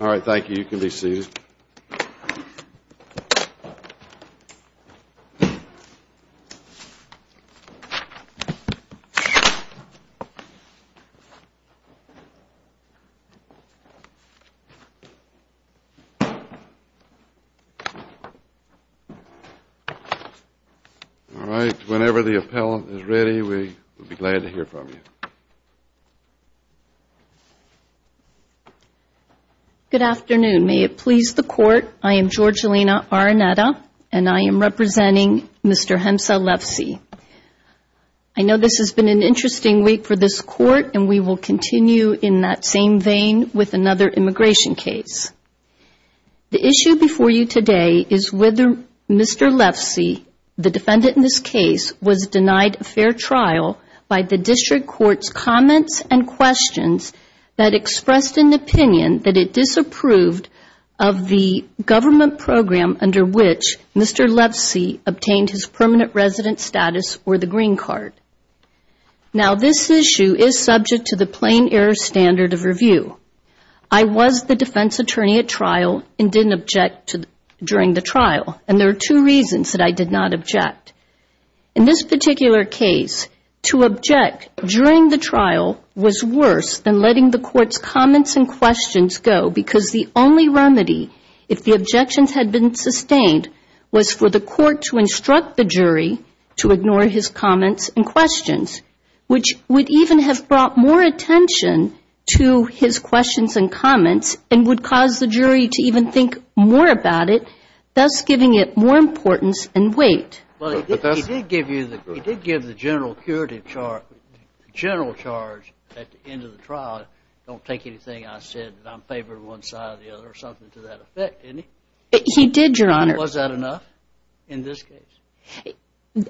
All right, thank you. You can be seated. All right, whenever the appellant is ready, we will be glad to hear from you. Good afternoon. May it please the Court, I am Georgina Araneta and I am representing Mr. Hemza Lefsih. I know this has been an interesting week for this Court and we will continue in that same vein with another immigration case. The issue before you today is whether Mr. Lefsih, the defendant in this case, was denied a fair trial by the District Court's comments and questions that expressed an opinion that it disapproved of the government program under which Mr. Lefsih obtained his permanent resident status or the green card. Now this issue is subject to the plain error standard of review. I was the defense attorney at trial and didn't object during the trial and there are two reasons that I did not object. In this particular case, to object during the trial was worse than letting the Court's comments and questions go because the only remedy, if the objections had been sustained, was for the Court to instruct the jury to ignore his comments and questions, which would even have brought more attention to his questions and comments and would cause the jury to even think more about it, thus giving it more importance and weight. But he did give you the general charge at the end of the trial, don't take anything I said that I'm in favor of one side or the other or something to that effect, didn't he? He did, Your Honor. Was that enough in this case?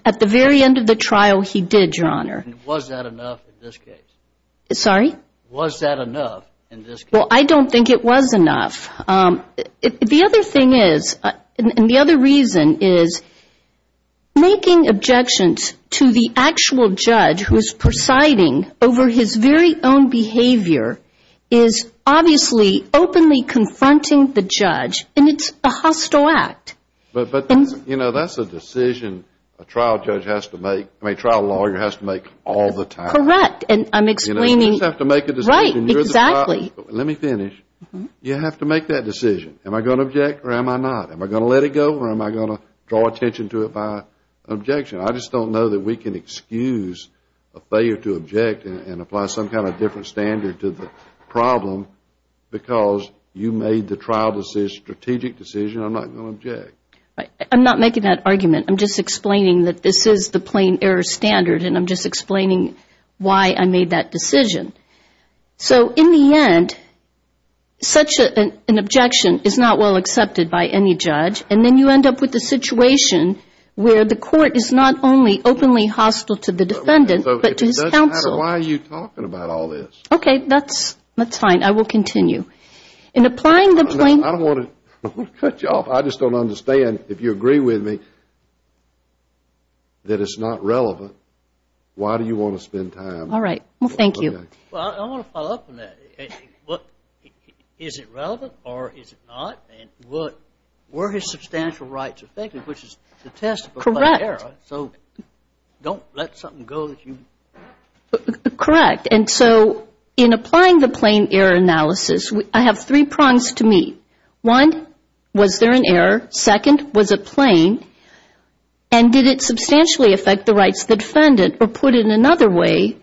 At the very end of the trial, he did, Your Honor. Was that enough in this case? Sorry? Was that enough in this case? Well, I don't think it was enough. The other thing is, and the other reason is, making objections to the actual judge who is presiding over his very own behavior is obviously openly confronting the judge, and it's a hostile act. But that's a decision a trial judge has to make, I mean, a trial lawyer has to make all the time. Correct. And I'm explaining... You just have to make a decision. Right, exactly. Let me finish. You have to make that decision. Am I going to object or am I not? Am I going to let it go or am I going to draw attention to it by objection? I just don't know that we can excuse a failure to object and apply some kind of different standard to the problem because you made the trial decision, strategic decision, I'm not going to object. I'm not making that argument. I'm just explaining that this is the plain error standard, and I'm just explaining why I made that decision. So in the end, such an objection is not well accepted by any judge, and then you end up with a situation where the court is not only openly hostile to the defendant, but to his counsel. It doesn't matter why you're talking about all this. Okay, that's fine. I will continue. In applying the plain... I don't want to cut you off. I just don't understand, if you agree with me, that it's not relevant. Why do you want to spend time... All right. Well, thank you. Well, I want to follow up on that. Is it relevant or is it not? And were his substantial rights effective, which is the test of a plain error? Correct. So don't let something go that you... Correct. And so in applying the plain error analysis, I have three prongs to meet. One, was there an error? Second, was it plain? And did it substantially affect the rights of the defendant, or put it another way,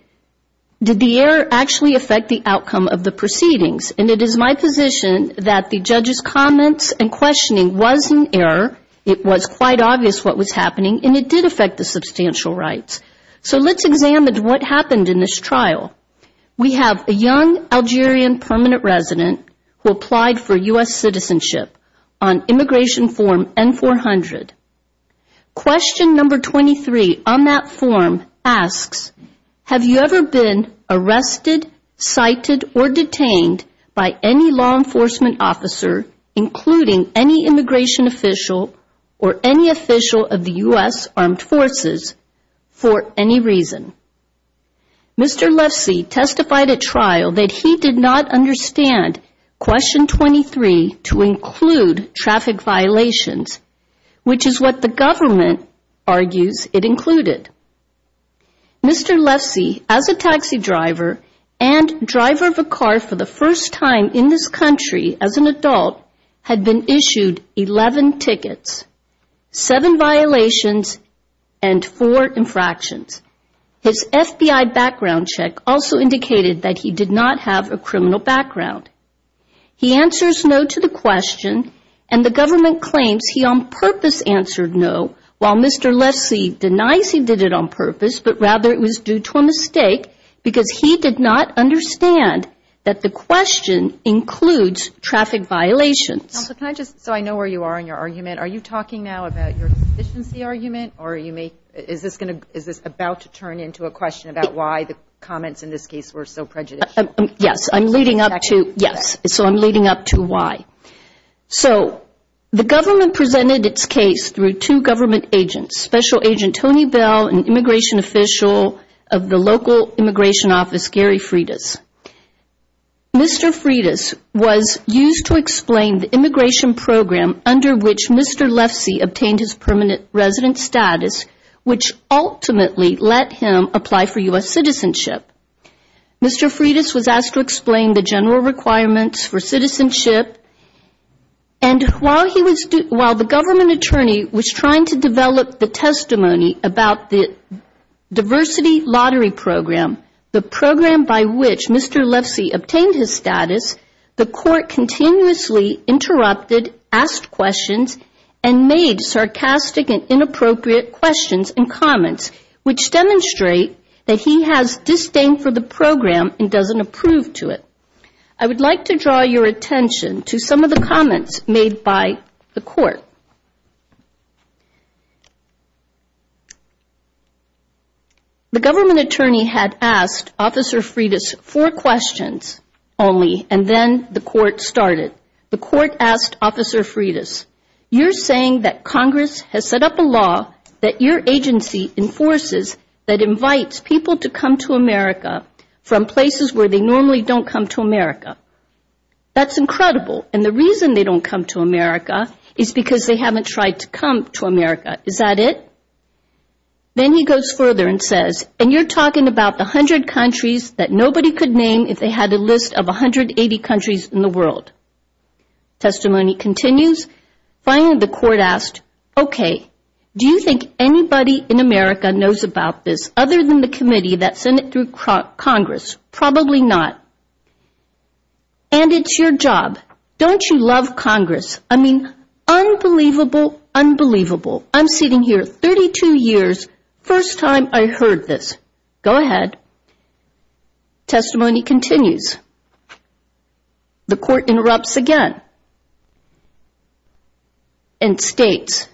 did the error actually affect the outcome of the proceedings? And it is my position that the judge's comments and questioning was an error. It was quite obvious what was happening, and it did affect the substantial rights. So let's examine what happened in this trial. We have a young Algerian permanent resident who applied for U.S. citizenship on immigration form N-400. Question number 23, on that form asks, have you ever been arrested, cited, or detained by any law enforcement officer, including any immigration official, or any official of the U.S. armed forces, for any reason? Mr. Lefsy testified at trial that he did not understand question 23 to include traffic violations, which is what the government argues it included. Mr. Lefsy, as a taxi driver and driver of a car for the first time in this country as an adult, had been issued 11 tickets, 7 violations, and 4 infractions. His FBI background check also indicated that he did not have a criminal background. He answers no to the question, and the government claims he on purpose answered no, while Mr. Lefsy denies he did it on purpose, but rather it was due to a mistake, because he did not understand that the question includes traffic violations. Counsel, can I just, so I know where you are in your argument. Are you talking now about your deficiency argument, or are you making, is this about to turn into a question about why the comments in this case were so prejudicial? Yes, I'm leading up to, yes, so I'm leading up to why. So, the government presented its case through two government agents, Special Agent Tony Bell, and immigration official of the local immigration office, Gary Freitas. Mr. Freitas was used to explain the immigration program under which Mr. Lefsy obtained his permanent resident status, which ultimately let him apply for U.S. citizenship. Mr. Freitas was asked to explain the general requirements for citizenship, and while he was, while the government attorney was trying to develop the testimony about the diversity lottery program, the program by which Mr. Lefsy obtained his status, the court continuously interrupted, asked questions, and made sarcastic and inappropriate questions and comments, which demonstrate that he has disdain for the program and doesn't approve to it. I would like to draw your attention to some of the comments made by the court. The government attorney had asked Officer Freitas four questions only, and then the testimony continues. Finally, the court asked, okay, do you think anybody in America knows about this other than the committee that sent it through Congress? Probably not. And it's your job. Don't you love Congress? I mean, unbelievable, unbelievable. I'm sitting here 32 years, first time I heard this. Go ahead. Testimony continues. The court interrupts again and states,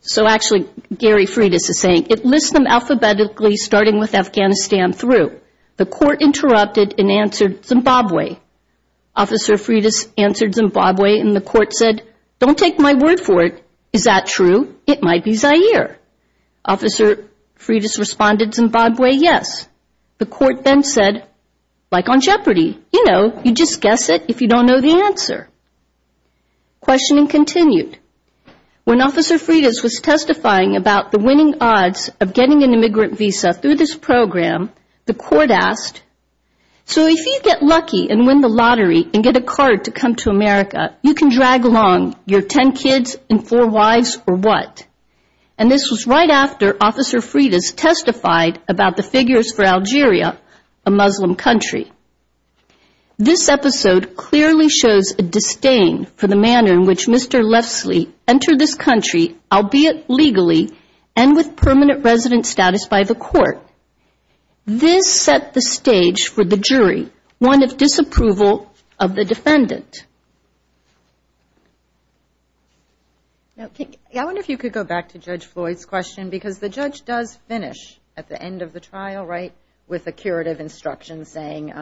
so actually Gary Freitas is saying, it lists them alphabetically starting with Afghanistan through. The court interrupted and answered Zimbabwe. Officer Freitas answered Zimbabwe, and the court said, don't take my word for it. Is that true? It might be Zaire. Officer Freitas responded Zimbabwe, yes. The court then said, like on property, you know, you just guess it if you don't know the answer. Questioning continued. When Officer Freitas was testifying about the winning odds of getting an immigrant visa through this program, the court asked, so if you get lucky and win the lottery and get a card to come to America, you can drag along your ten kids and four wives or what? And this was right after Officer Freitas testified about the figures for Algeria, a Muslim country. This episode clearly shows a disdain for the manner in which Mr. Lefsley entered this country, albeit legally, and with permanent resident status by the court. This set the stage for the jury, one of disapproval of the defendant. I wonder if you could go back to Judge Floyd's question, because the judge does finish at the end of the trial, right, with a curative instruction saying,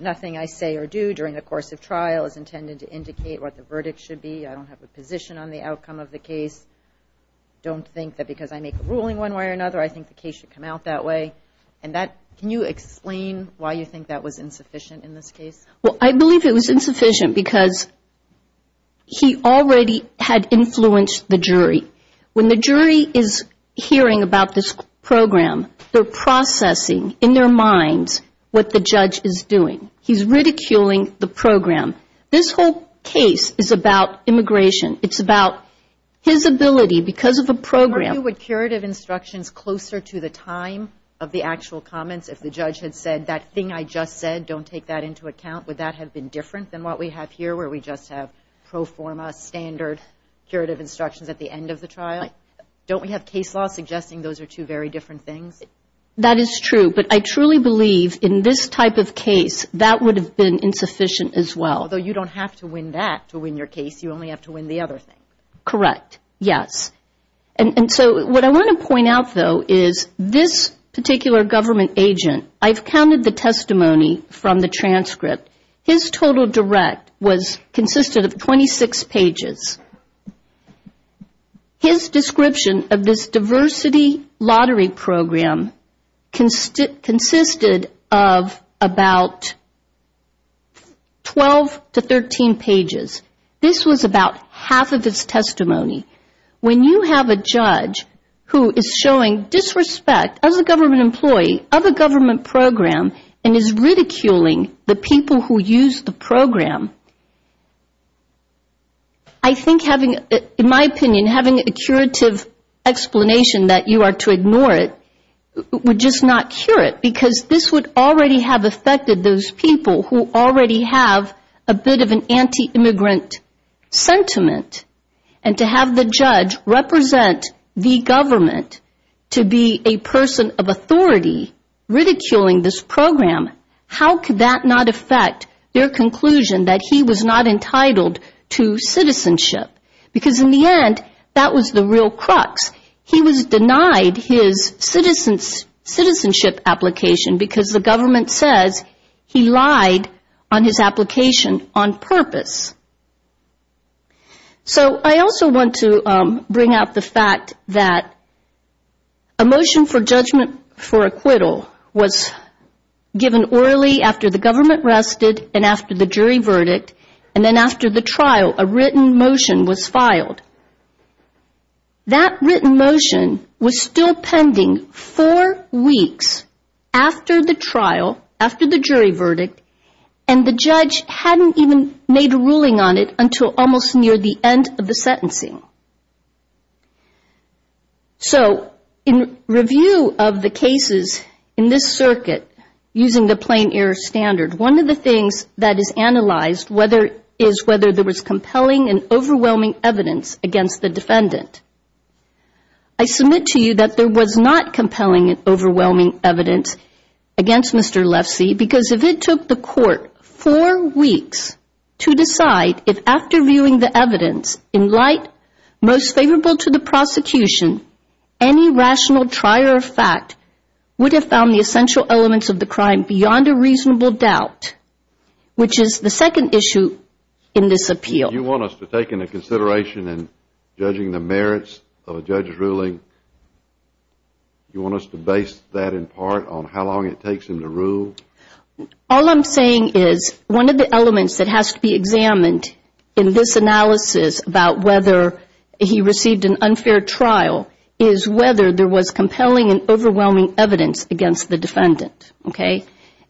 nothing I say or do during the course of trial is intended to indicate what the verdict should be. I don't have a position on the outcome of the case. Don't think that because I make a ruling one way or another, I think the case should come out that way. And that, can you explain why you think that was insufficient in this case? Well, I believe it was insufficient because he already had influenced the jury. When the jury is hearing about this program, they're processing in their minds what the judge is doing. He's ridiculing the program. This whole case is about immigration. It's about his ability because of a program. Aren't you with curative instructions closer to the time of the actual comments? If the would that have been different than what we have here, where we just have pro forma, standard curative instructions at the end of the trial? Don't we have case law suggesting those are two very different things? That is true, but I truly believe in this type of case, that would have been insufficient as well. Although you don't have to win that to win your case. You only have to win the other thing. Correct. Yes. And so what I want to point out, though, is this particular government agent, I've counted the testimony from the transcript. His total direct was consisted of 26 pages. His description of this diversity lottery program consisted of about 12 to 13 pages. This was about half of his testimony. When you have a judge who is showing disrespect as a government employee of a government program and is ridiculing the people who use the program, I think having, in my opinion, having a curative explanation that you are to ignore it would just not cure it because this would already have affected those people who already have a bit of an anti-immigrant sentiment and to have the judge represent the government to be a person of authority ridiculing this program, how could that not affect their conclusion that he was not entitled to citizenship? Because in the end, that was the real crux. He was denied his citizenship application because the government says he lied on his application on purpose. So, I also want to bring out the fact that a motion for judgment for acquittal was given orally after the government rested and after the jury verdict and then after the trial a written motion was filed. That written motion was still pending four weeks after the trial, after the jury verdict, and the judge hadn't even made a ruling on it until almost near the end of the sentencing. So, in review of the cases in this circuit using the plain air standard, one of the things that is analyzed is whether there was compelling and overwhelming evidence against the defendant. I submit to you that there was not compelling and overwhelming evidence against Mr. Lefsey because if it took the court four weeks to decide if after viewing the evidence in light most favorable to the prosecution, any rational trier of fact would have found the essential elements of the crime beyond a reasonable doubt, which is the second issue in this appeal. You want us to take into consideration in judging the merits of a judge's ruling, you want us to base that in part on how long it takes him to rule? All I'm saying is one of the elements that has to be examined in this analysis about whether he received an unfair trial is whether there was compelling and overwhelming evidence against the defendant.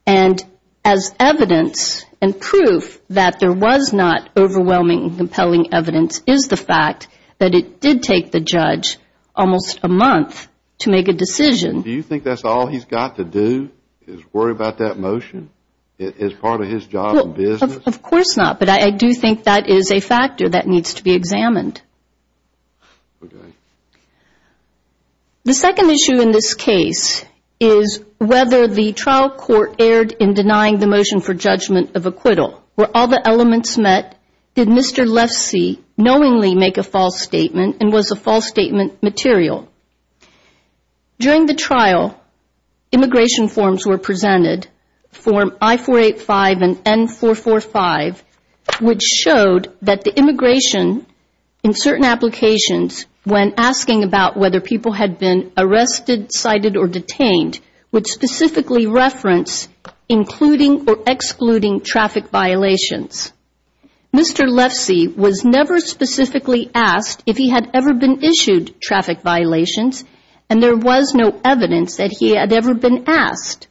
And as evidence and proof that there was not overwhelming evidence and compelling evidence is the fact that it did take the judge almost a month to make a decision. Do you think that's all he's got to do is worry about that motion as part of his job and business? Of course not, but I do think that is a factor that needs to be examined. The second issue in this case is whether the trial court erred in denying the motion for Mr. Lefse knowingly make a false statement and was a false statement material. During the trial, immigration forms were presented, form I-485 and N-445, which showed that the immigration in certain applications when asking about whether people had been arrested, cited or detained would specifically reference including or excluding traffic violations. Mr. Lefse was never specifically asked if he had ever been issued traffic violations and there was no evidence that he had ever been asked.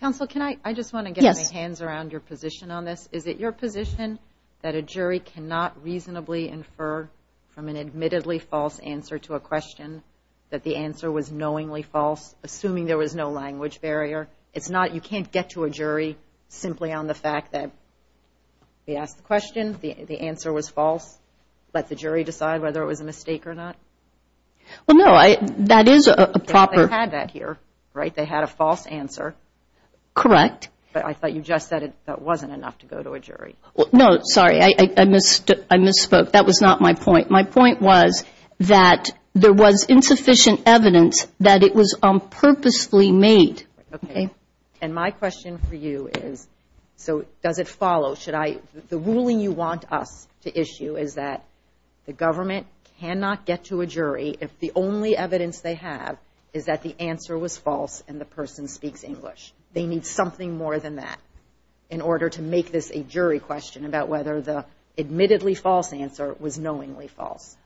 Counsel, I just want to get my hands around your position on this. Is it your position that a jury cannot reasonably infer from an admittedly false answer to a question that the answer was knowingly false, assuming there was no language barrier? You can't get to a jury simply on the fact that we asked the question, the answer was false, let the jury decide whether it was a mistake or not? Well, no, that is a proper Because they had that here, right? They had a false answer. Correct. But I thought you just said that wasn't enough to go to a jury. No, sorry, I misspoke. That was not my point. My point was that there was insufficient evidence that it was purposely made. Okay, and my question for you is, so does it follow, should I, the ruling you want us to issue is that the government cannot get to a jury if the only evidence they have is that the answer was false and the person speaks English. They need something more than that in order to make this a jury question about whether the admittedly false answer was knowingly false.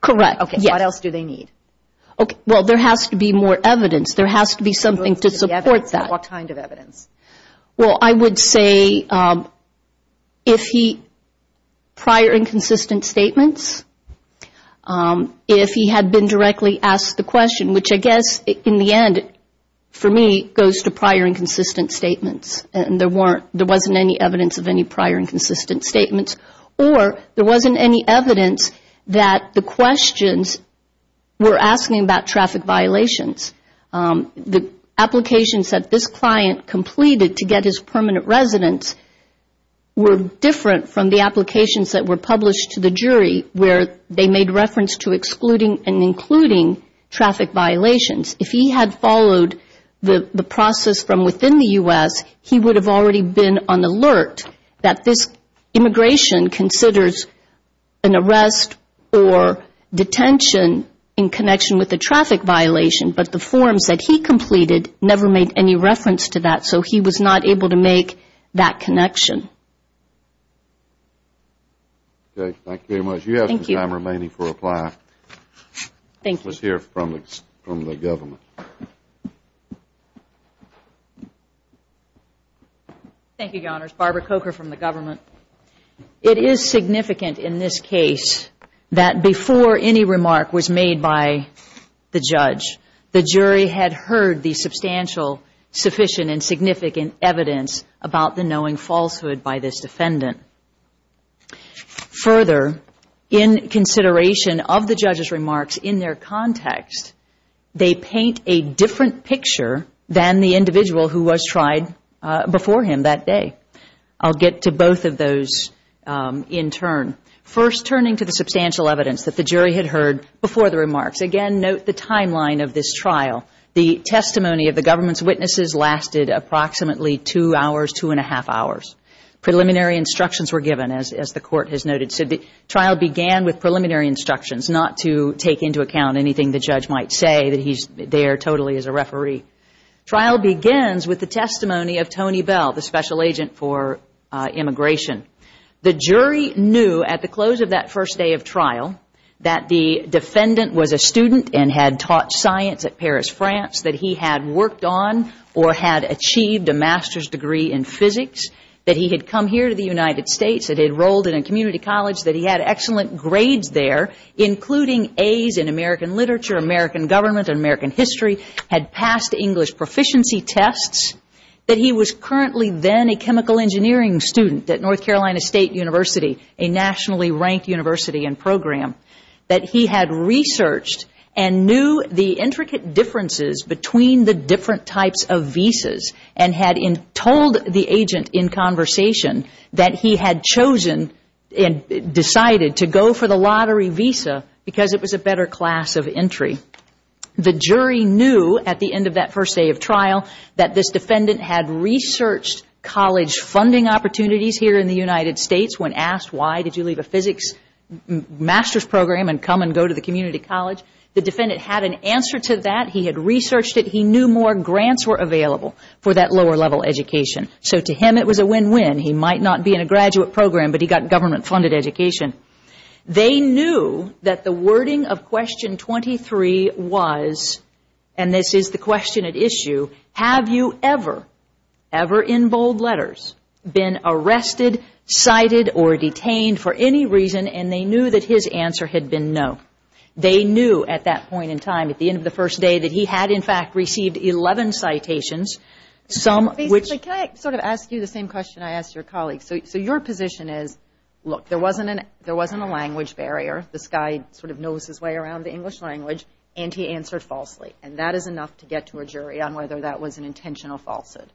Correct, yes. What else do they need? Okay, well, there has to be more evidence. There has to be something to support that. What kind of evidence? Well, I would say if he, prior and consistent statements, if he had been directly asked the question, which I guess in the end, for me, goes to prior and consistent statements and there wasn't any evidence of any prior and consistent statements, or there wasn't any evidence that the questions were asking about traffic violations, the applications that this client completed to get his permanent residence were different from the applications that were published to the jury where they made reference to excluding and including traffic violations. If he had followed the process from within the U.S., he would have already been on alert that this immigration considers an arrest or detention in connection with a traffic violation, but the forms that he completed never made any reference to that, so he was not able to make that connection. Okay, thank you very much. You have some time remaining for reply. Thank you. Let's hear from the government. Thank you, Your Honors. Barbara Coker from the government. It is significant in this case that before any remark was made by the judge, the jury had heard the substantial, sufficient, and significant evidence about the knowing falsehood by this defendant. Further, in consideration of the judge's remarks in their context, they paint a picture than the individual who was tried before him that day. I'll get to both of those in turn. First, turning to the substantial evidence that the jury had heard before the remarks. Again, note the timeline of this trial. The testimony of the government's witnesses lasted approximately two hours, two and a half hours. Preliminary instructions were given, as the Court has noted. So the trial began with preliminary instructions, not to take into account anything the judge might say, that he's there totally as a referee. Trial begins with the testimony of Tony Bell, the special agent for immigration. The jury knew at the close of that first day of trial that the defendant was a student and had taught science at Paris, France, that he had worked on or had achieved a master's degree in physics, that he had come here to the United States, that he enrolled in a community college, that he had excellent grades there, including A's in American literature, American government and American history, had passed English proficiency tests, that he was currently then a chemical engineering student at North Carolina State University, a nationally ranked university and program, that he had researched and knew the intricate differences between the different types of visas and had told the agent in conversation that he had chosen decided to go for the lottery visa because it was a better class of entry. The jury knew at the end of that first day of trial that this defendant had researched college funding opportunities here in the United States. When asked why did you leave a physics master's program and come and go to the community college, the defendant had an answer to that. He had researched it. He knew more grants were available for that lower level education. So to him it was a win-win. He might not be in a graduate program, but he got government-funded education. They knew that the wording of question 23 was, and this is the question at issue, have you ever, ever in bold letters been arrested, cited or detained for any reason? And they knew that his answer had been no. They knew at that point in time, at the end of the first day, that he had in fact received 11 citations. Basically, can I sort of ask you the same question I asked your colleague? So your position is, look, there wasn't a language barrier. This guy sort of knows his way around the English language, and he answered falsely. And that is enough to get to a jury on whether that was an intentional falsehood.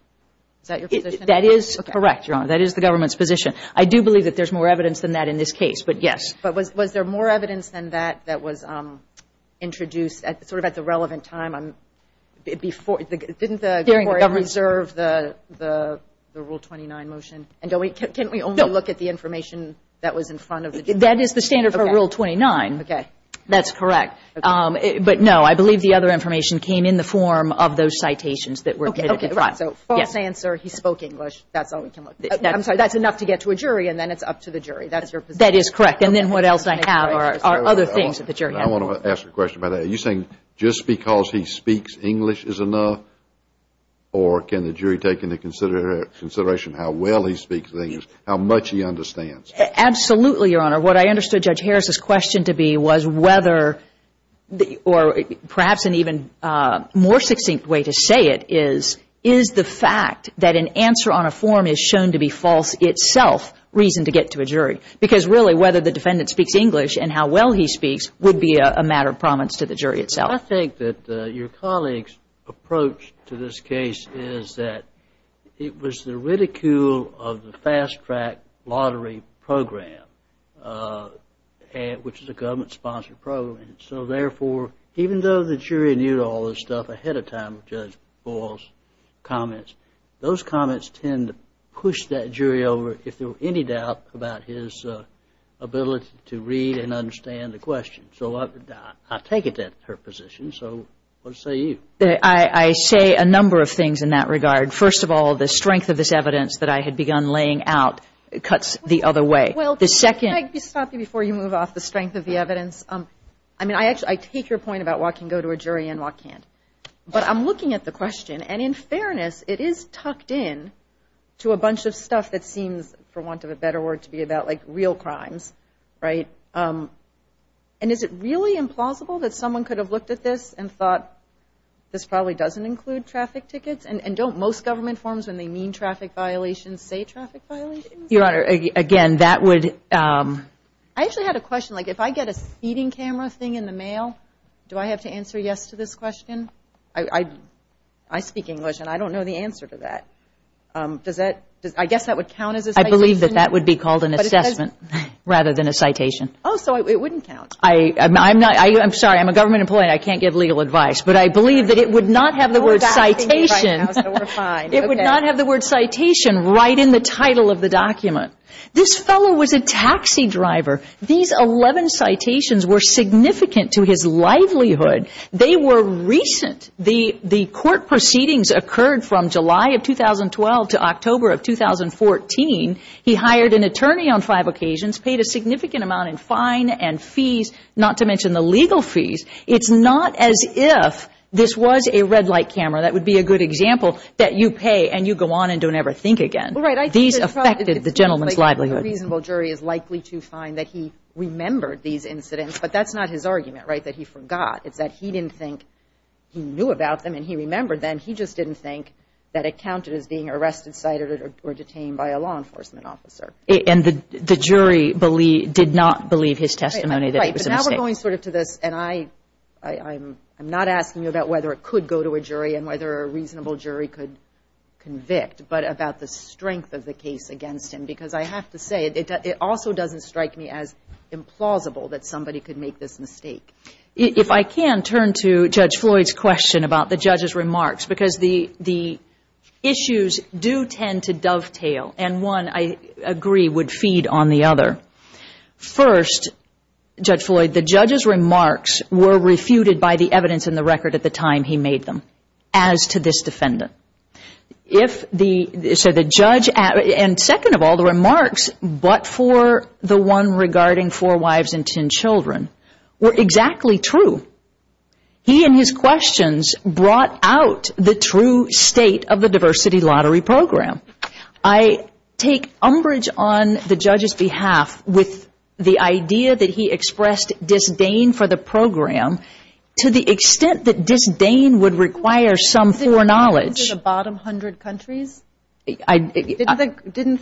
Is that your position? That is correct, Your Honor. That is the government's position. I do believe that there's more evidence than that in this case, but yes. But was there more evidence than that that was introduced sort of at the relevant time? Didn't the government reserve the Rule 29 motion? And can we only look at the information that was in front of the jury? That is the standard for Rule 29. Okay. That's correct. But, no, I believe the other information came in the form of those citations that were admitted to trial. Okay, right. So false answer, he spoke English. That's all we can look at. I'm sorry. That's enough to get to a jury, and then it's up to the jury. That's your position. That is correct. And then what else I have are other things that the jury has. I want to ask a question about that. Are you saying just because he speaks English is enough, or can the jury take into consideration how well he speaks English, how much he understands? Absolutely, Your Honor. What I understood Judge Harris's question to be was whether, or perhaps an even more succinct way to say it is, is the fact that an answer on a form is shown to be false itself reason to get to a jury? Because, really, whether the defendant speaks English and how well he speaks would be a matter of promise to the jury itself. I think that your colleague's approach to this case is that it was the ridicule of the fast-track lottery program, which is a government-sponsored program. So, therefore, even though the jury knew all this stuff ahead of time of Judge Boyle's comments, those comments tend to push that jury over, if there were any doubt, about his ability to read and understand the question. So I take it that's her position. So what say you? I say a number of things in that regard. First of all, the strength of this evidence that I had begun laying out cuts the other way. Well, can I just stop you before you move off the strength of the evidence? I mean, I take your point about what can go to a jury and what can't. But I'm looking at the question, and in fairness, it is tucked in to a bunch of stuff that seems, for want of a better word, to be about, like, real crimes, right? And is it really implausible that someone could have looked at this and thought, this probably doesn't include traffic tickets? And don't most government forms, when they mean traffic violations, say traffic violations? Your Honor, again, that would – I actually had a question. Like, if I get a seating camera thing in the mail, do I have to answer yes to this question? I speak English, and I don't know the answer to that. Does that – I guess that would count as a citation? I believe that that would be called an assessment rather than a citation. Oh, so it wouldn't count. I'm not – I'm sorry, I'm a government employee, and I can't give legal advice. But I believe that it would not have the word citation. We're fine. It would not have the word citation right in the title of the document. This fellow was a taxi driver. These 11 citations were significant to his livelihood. They were recent. The court proceedings occurred from July of 2012 to October of 2014. He hired an attorney on five occasions, paid a significant amount in fine and fees, not to mention the legal fees. It's not as if this was a red light camera. That would be a good example that you pay and you go on and don't ever think again. These affected the gentleman's livelihood. A reasonable jury is likely to find that he remembered these incidents, but that's not his argument, right, that he forgot. It's that he didn't think he knew about them and he remembered them. He just didn't think that it counted as being arrested, cited, or detained by a law enforcement officer. And the jury did not believe his testimony that it was a mistake. Right, but now we're going sort of to this, and I'm not asking you about whether it could go to a jury and whether a reasonable jury could convict, but about the strength of the case against him because I have to say it also doesn't strike me as implausible that somebody could make this mistake. If I can, turn to Judge Floyd's question about the judge's remarks, because the issues do tend to dovetail, and one, I agree, would feed on the other. First, Judge Floyd, the judge's remarks were refuted by the evidence in the record at the time he made them as to this defendant. If the, so the judge, and second of all, the remarks, but for the one regarding four wives and ten children, were exactly true. He and his questions brought out the true state of the diversity lottery program. I take umbrage on the judge's behalf with the idea that he expressed disdain for the program to the extent that disdain would require some foreknowledge. Didn't he say the bottom hundred countries? Didn't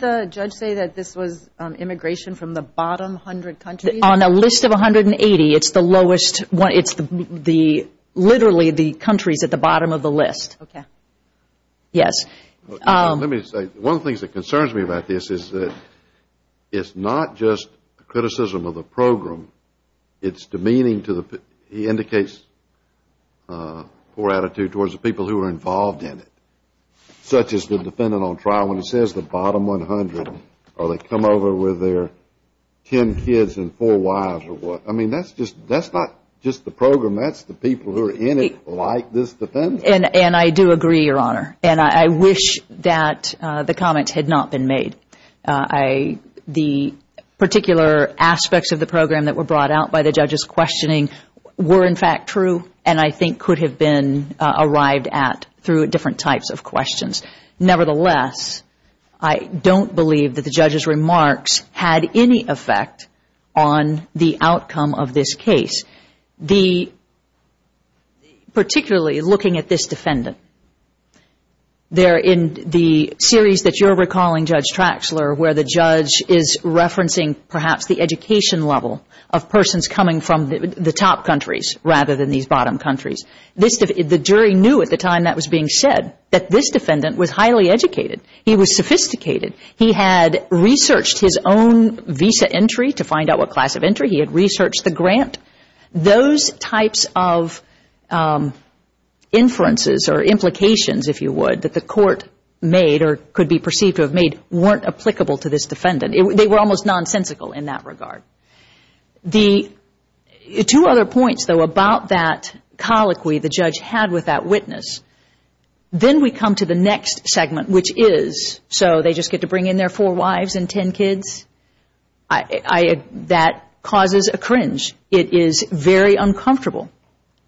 the judge say that this was immigration from the bottom hundred countries? On a list of 180, it's the lowest, it's the, literally the countries at the bottom of the list. Okay. Yes. Let me say, one of the things that concerns me about this is that it's not just criticism of the program. It's demeaning to the, he indicates poor attitude towards the people who are involved in it, such as the defendant on trial when he says the bottom 100, or they come over with their ten kids and four wives or what. I mean, that's just, that's not just the program. That's the people who are in it like this defendant. And I do agree, Your Honor. And I wish that the comment had not been made. The particular aspects of the program that were brought out by the judge's questioning were, in fact, true and I think could have been arrived at through different types of questions. Nevertheless, I don't believe that the judge's remarks had any effect on the outcome of this case. The, particularly looking at this defendant, there in the series that you're recalling, Judge Traxler, where the judge is referencing perhaps the education level of persons coming from the top countries rather than these bottom countries. The jury knew at the time that was being said that this defendant was highly educated. He was sophisticated. He had researched his own visa entry to find out what class of entry. He had researched the grant. Those types of inferences or implications, if you would, that the court made or could be perceived to have made weren't applicable to this defendant. They were almost nonsensical in that regard. The two other points, though, about that colloquy the judge had with that witness, then we come to the next segment, which is, so they just get to bring in their four wives and ten kids. That causes a cringe. It is very uncomfortable.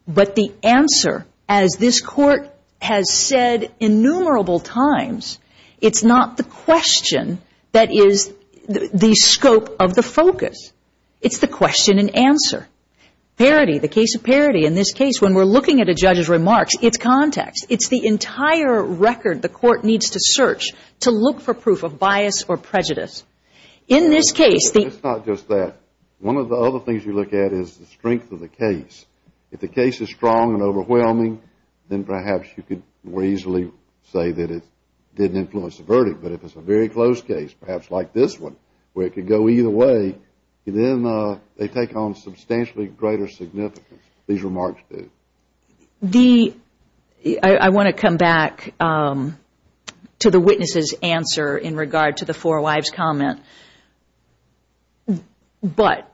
But the answer, as this court has said innumerable times, it's not the question that is the scope of the focus. It's the question and answer. Parity, the case of parity in this case, when we're looking at a judge's remarks, it's context. It's the entire record the court needs to search to look for proof of bias or prejudice. In this case, the It's not just that. One of the other things you look at is the strength of the case. If the case is strong and overwhelming, then perhaps you could more easily say that it didn't influence the verdict. But if it's a very close case, perhaps like this one, where it could go either way, then they take on substantially greater significance. These remarks do. I want to come back to the witness's answer in regard to the four wives' comment. But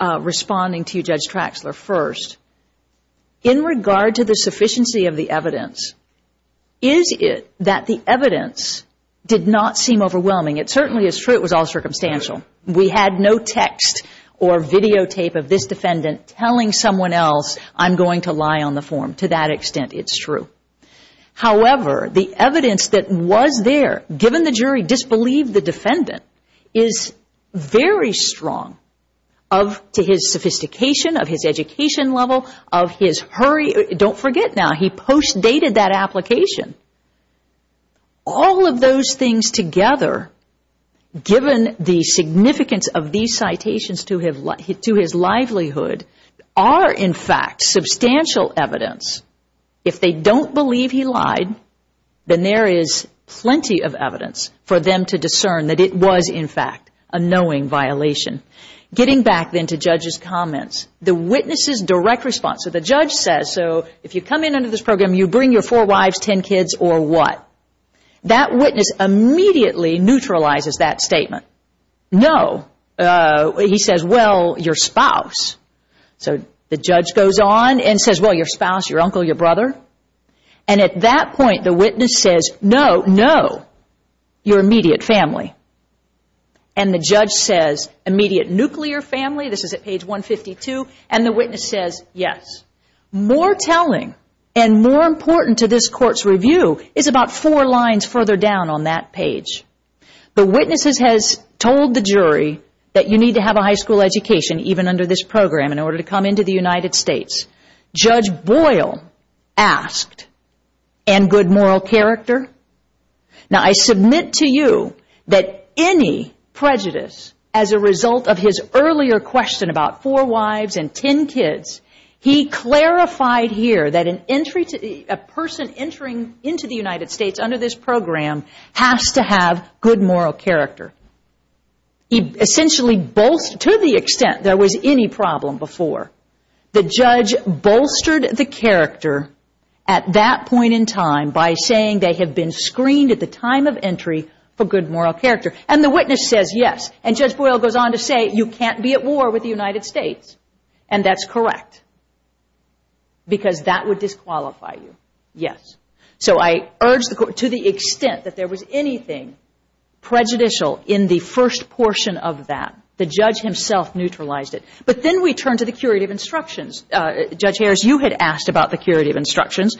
responding to you, Judge Traxler, first, in regard to the sufficiency of the evidence, is it that the evidence did not seem overwhelming? It certainly is true it was all circumstantial. We had no text or videotape of this defendant telling someone else, I'm going to lie on the form. To that extent, it's true. However, the evidence that was there, given the jury disbelieved the defendant, is very strong to his sophistication, of his education level, of his hurry. Don't forget now, he post-dated that application. All of those things together, given the significance of these citations to his livelihood, are, in fact, substantial evidence. If they don't believe he lied, then there is plenty of evidence for them to discern that it was, in fact, a knowing violation. Getting back then to Judge's comments, the witness's direct response. So the judge says, so if you come in under this program, you bring your four wives, ten kids, or what? That witness immediately neutralizes that statement. No. He says, well, your spouse. So the judge goes on and says, well, your spouse, your uncle, your brother. And at that point, the witness says, no, no, your immediate family. And the judge says, immediate nuclear family. This is at page 152. And the witness says, yes. More telling and more important to this court's review is about four lines further down on that page. The witness has told the jury that you need to have a high school education, even under this program, in order to come into the United States. Judge Boyle asked, and good moral character. Now, I submit to you that any prejudice as a result of his earlier question about four wives and ten kids, he clarified here that a person entering into the United States under this program has to have good moral character. He essentially bolstered to the extent there was any problem before. The judge bolstered the character at that point in time by saying they had been screened at the time of entry for good moral character. And the witness says, yes. And Judge Boyle goes on to say, you can't be at war with the United States. And that's correct. Because that would disqualify you. Yes. So I urge the court, to the extent that there was anything prejudicial in the first portion of that, the judge himself neutralized it. But then we turn to the curative instructions. Judge Harris, you had asked about the curative instructions.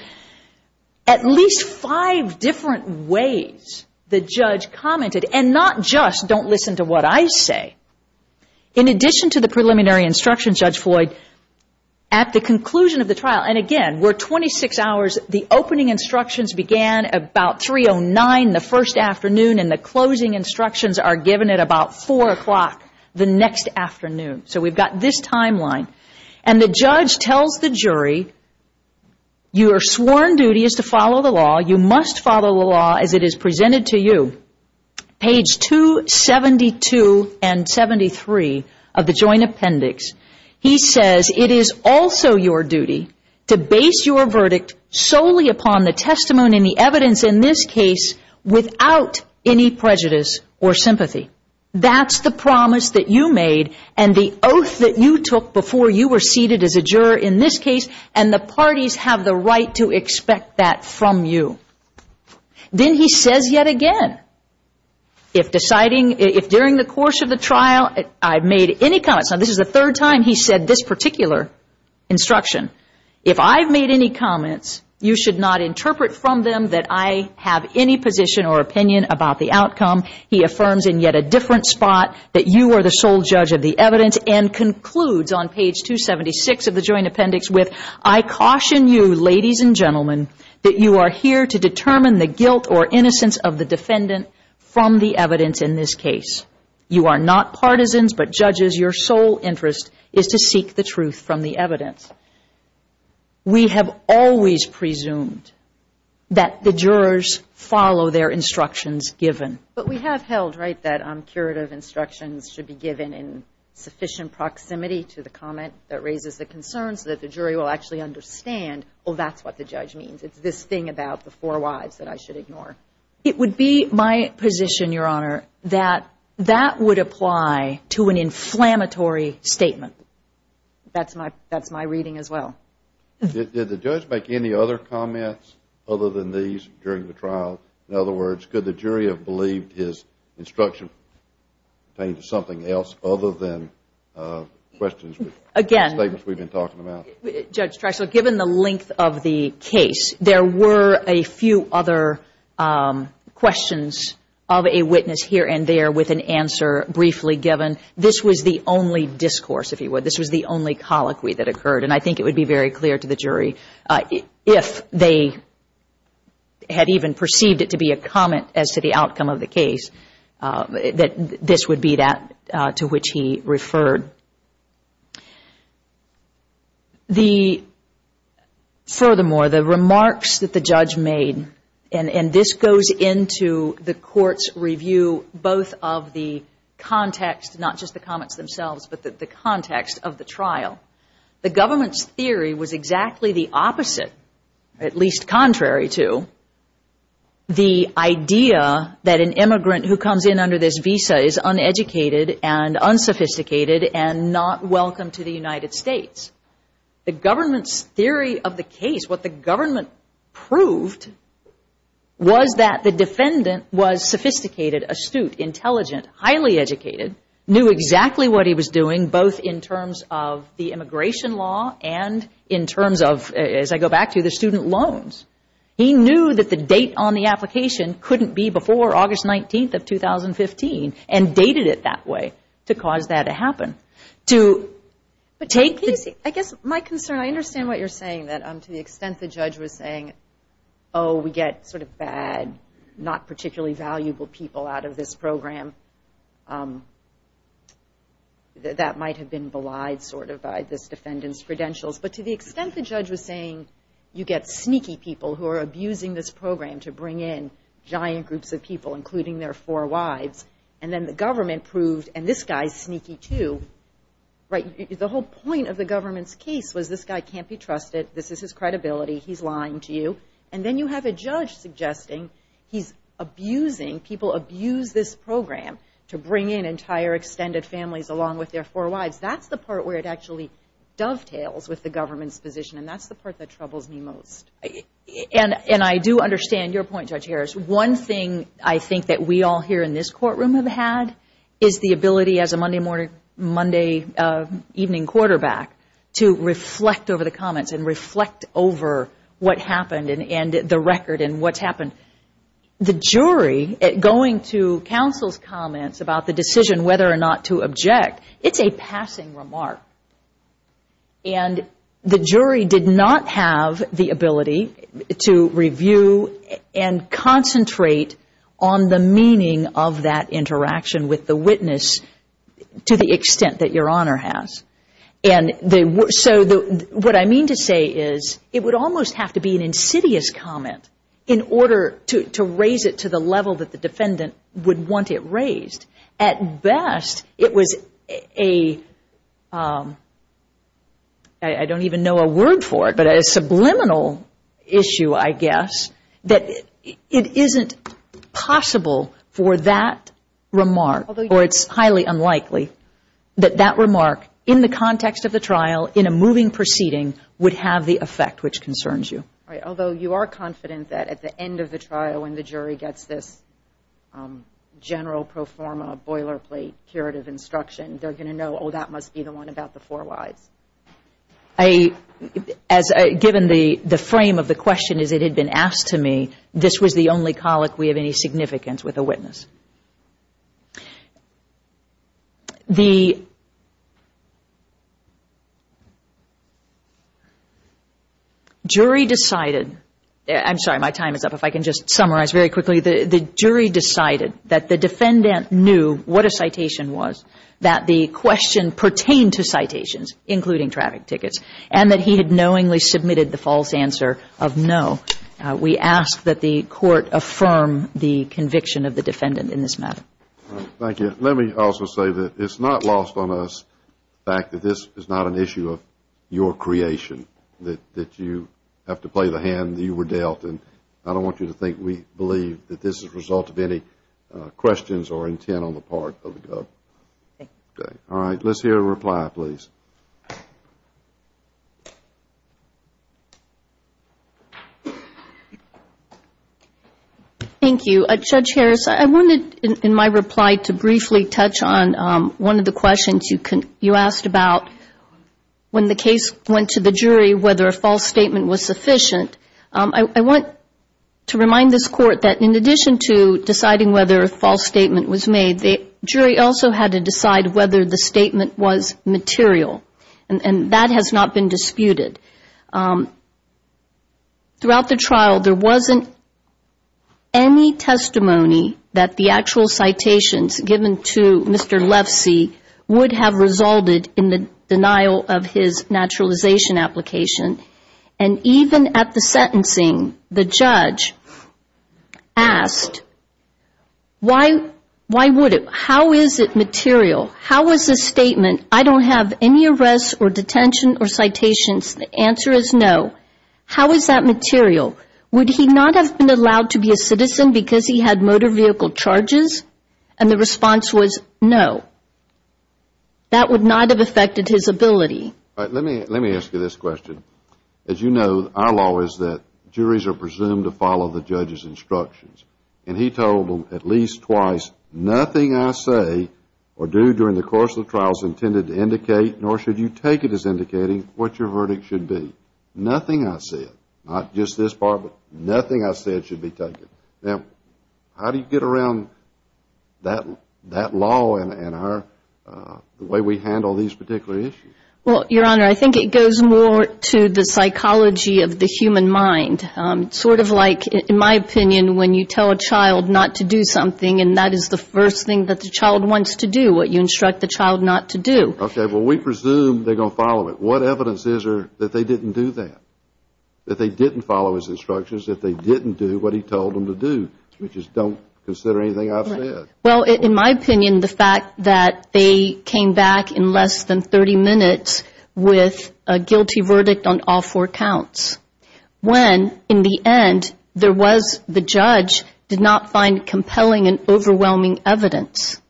At least five different ways the judge commented, and not just don't listen to what I say. In addition to the preliminary instructions, Judge Floyd, at the conclusion of the trial, and again, we're 26 hours, the opening instructions began about 309 the first afternoon, and the closing instructions are given at about 4 o'clock the next afternoon. So we've got this timeline. And the judge tells the jury, your sworn duty is to follow the law. You must follow the law as it is presented to you. Page 272 and 73 of the Joint Appendix, he says, it is also your duty to base your verdict solely upon the testimony and the evidence in this case without any prejudice or sympathy. That's the promise that you made and the oath that you took before you were seated as a juror in this case, and the parties have the right to expect that from you. Then he says yet again, if during the course of the trial I've made any comments, now this is the third time he's said this particular instruction, if I've made any comments, you should not interpret from them that I have any position or opinion about the outcome. He affirms in yet a different spot that you are the sole judge of the evidence and concludes on page 276 of the Joint Appendix with, I caution you, ladies and gentlemen, that you are here to determine the guilt or innocence of the defendant from the evidence in this case. You are not partisans, but, judges, your sole interest is to seek the truth from the evidence. We have always presumed that the jurors follow their instructions given. But we have held, right, that curative instructions should be given in sufficient proximity to the comment that raises the concern so that the jury will actually understand, oh, that's what the judge means. It's this thing about the four wives that I should ignore. It would be my position, Your Honor, that that would apply to an inflammatory statement. That's my reading as well. Did the judge make any other comments other than these during the trial? In other words, could the jury have believed his instruction pertained to something else other than questions, statements we've been talking about? Again, Judge Drexler, given the length of the case, there were a few other questions of a witness here and there with an answer briefly given. This was the only discourse, if you would. This was the only colloquy that occurred. And I think it would be very clear to the jury, if they had even perceived it to be a comment as to the outcome of the case, that this would be that to which he referred. Furthermore, the remarks that the judge made, and this goes into the court's review both of the context, not just the comments themselves, but the context of the trial. The government's theory was exactly the opposite, at least contrary to, the idea that an immigrant who comes in under this visa is uneducated and unsophisticated and not welcome to the United States. The government's theory of the case, what the government proved, was that the defendant was sophisticated, astute, intelligent, highly educated, knew exactly what he was doing both in terms of the immigration law and in terms of, as I go back to, the student loans. He knew that the date on the application couldn't be before August 19th of 2015 and dated it that way to cause that to happen. I guess my concern, I understand what you're saying, that to the extent the judge was saying, oh, we get sort of bad, not particularly valuable people out of this program, that might have been belied sort of by this defendant's credentials. But to the extent the judge was saying you get sneaky people who are abusing this program to bring in giant groups of people, including their four wives, and then the government proved, and this guy's sneaky too, right? The whole point of the government's case was this guy can't be trusted. This is his credibility. He's lying to you. And then you have a judge suggesting he's abusing, people abuse this program to bring in entire extended families along with their four wives. That's the part where it actually dovetails with the government's position, and that's the part that troubles me most. And I do understand your point, Judge Harris. One thing I think that we all here in this courtroom have had is the ability, as a Monday evening quarterback, to reflect over the comments and reflect over what happened and the record and what's happened. The jury, going to counsel's comments about the decision whether or not to object, it's a passing remark. And the jury did not have the ability to review and concentrate on the meaning of that interaction with the witness to the extent that Your Honor has. And so what I mean to say is it would almost have to be an insidious comment in order to raise it to the level that the defendant would want it raised. At best, it was a, I don't even know a word for it, but a subliminal issue, I guess, that it isn't possible for that remark, or it's highly unlikely that that remark, in the context of the trial, in a moving proceeding, would have the effect which concerns you. All right, although you are confident that at the end of the trial when the jury gets this general pro forma boilerplate curative instruction, they're going to know, oh, that must be the one about the four wives. Given the frame of the question as it had been asked to me, this was the only colic we have any significance with the witness. The jury decided, I'm sorry, my time is up, if I can just summarize very quickly. The jury decided that the defendant knew what a citation was, that the question pertained to citations, including traffic tickets, and that he had knowingly submitted the false answer of no. We ask that the court affirm the conviction of the defendant in this matter. Thank you. Let me also say that it's not lost on us the fact that this is not an issue of your creation, that you have to play the hand that you were dealt, and I don't want you to think we believe that this is a result of any questions or intent on the part of the government. All right, let's hear a reply, please. Thank you. Judge Harris, I wanted in my reply to briefly touch on one of the questions you asked about when the case went to the jury whether a false statement was sufficient. I want to remind this Court that in addition to deciding whether a false statement was made, the jury also had to decide whether the statement was material, and that has not been disputed. Throughout the trial, there wasn't any testimony that the actual citations given to Mr. Lefsey would have resulted in the denial of his naturalization application, and even at the sentencing, the judge asked, why would it? How is it material? How is the statement, I don't have any arrests or detention or citations, the answer is no, how is that material? Would he not have been allowed to be a citizen because he had motor vehicle charges? And the response was no. That would not have affected his ability. All right, let me ask you this question. As you know, our law is that juries are presumed to follow the judge's instructions, and he told them at least twice, nothing I say or do during the course of the trial is intended to indicate, nor should you take it as indicating, what your verdict should be. Nothing I said, not just this part, but nothing I said should be taken. Now, how do you get around that law and the way we handle these particular issues? Well, Your Honor, I think it goes more to the psychology of the human mind. It's sort of like, in my opinion, when you tell a child not to do something and that is the first thing that the child wants to do, what you instruct the child not to do. Okay, well, we presume they're going to follow it. What evidence is there that they didn't do that, that they didn't follow his instructions, that they didn't do what he told them to do, which is don't consider anything I've said? Well, in my opinion, the fact that they came back in less than 30 minutes with a guilty verdict on all four counts when, in the end, there was the judge did not find compelling and overwhelming evidence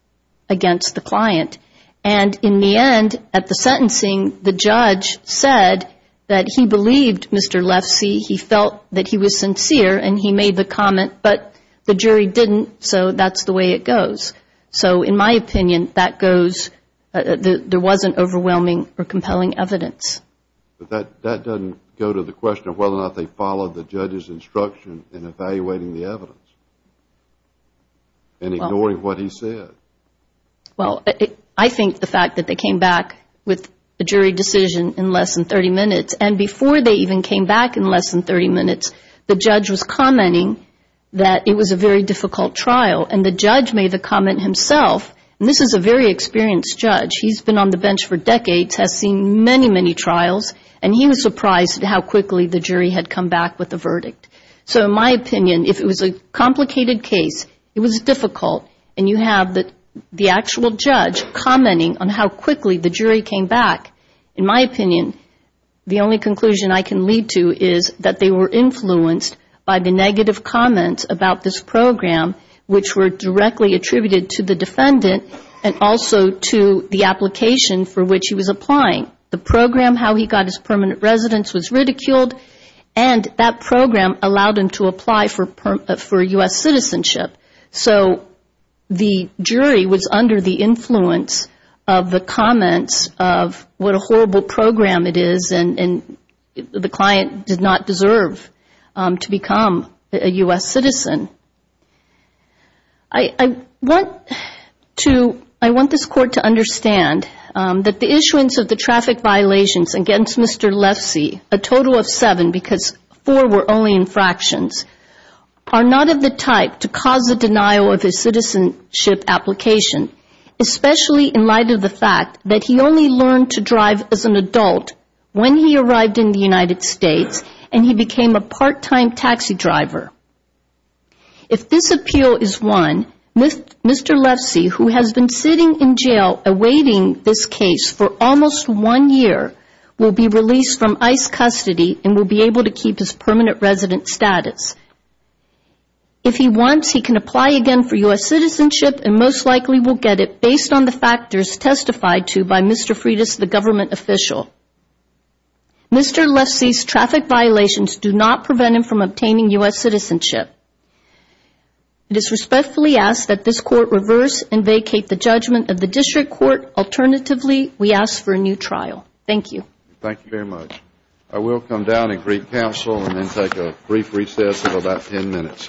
against the client. And in the end, at the sentencing, the judge said that he believed Mr. Lefsey. He felt that he was sincere and he made the comment, but the jury didn't, so that's the way it goes. So, in my opinion, that goes, there wasn't overwhelming or compelling evidence. But that doesn't go to the question of whether or not they followed the judge's instruction in evaluating the evidence and ignoring what he said. Well, I think the fact that they came back with a jury decision in less than 30 minutes and before they even came back in less than 30 minutes, the judge was commenting that it was a very difficult trial, and the judge made the comment himself, and this is a very experienced judge, he's been on the bench for decades, has seen many, many trials, and he was surprised at how quickly the jury had come back with a verdict. So, in my opinion, if it was a complicated case, it was difficult, and you have the actual judge commenting on how quickly the jury came back, in my opinion, the only conclusion I can lead to is that they were influenced by the negative comments about this program, which were directly attributed to the defendant and also to the application for which he was applying. The program, how he got his permanent residence was ridiculed, and that program allowed him to apply for U.S. citizenship. So, the jury was under the influence of the comments of what a horrible program it is, and the client did not deserve to become a U.S. citizen. I want this court to understand that the issuance of the traffic violations against Mr. Lefsey, a total of seven, because four were only infractions, are not of the type to cause a denial of his citizenship application, especially in light of the fact that he only learned to drive as an adult when he arrived in the United States, and he became a part-time taxi driver. If this appeal is won, Mr. Lefsey, who has been sitting in jail awaiting this case for almost one year, will be released from ICE custody and will be able to keep his permanent residence status. If he wants, he can apply again for U.S. citizenship and most likely will get it, based on the factors testified to by Mr. Freitas, the government official. Mr. Lefsey's traffic violations do not prevent him from obtaining U.S. citizenship. It is respectfully asked that this court reverse and vacate the judgment of the district court. Alternatively, we ask for a new trial. Thank you. Thank you very much. I will come down and greet counsel and then take a brief recess of about ten minutes. Thank you.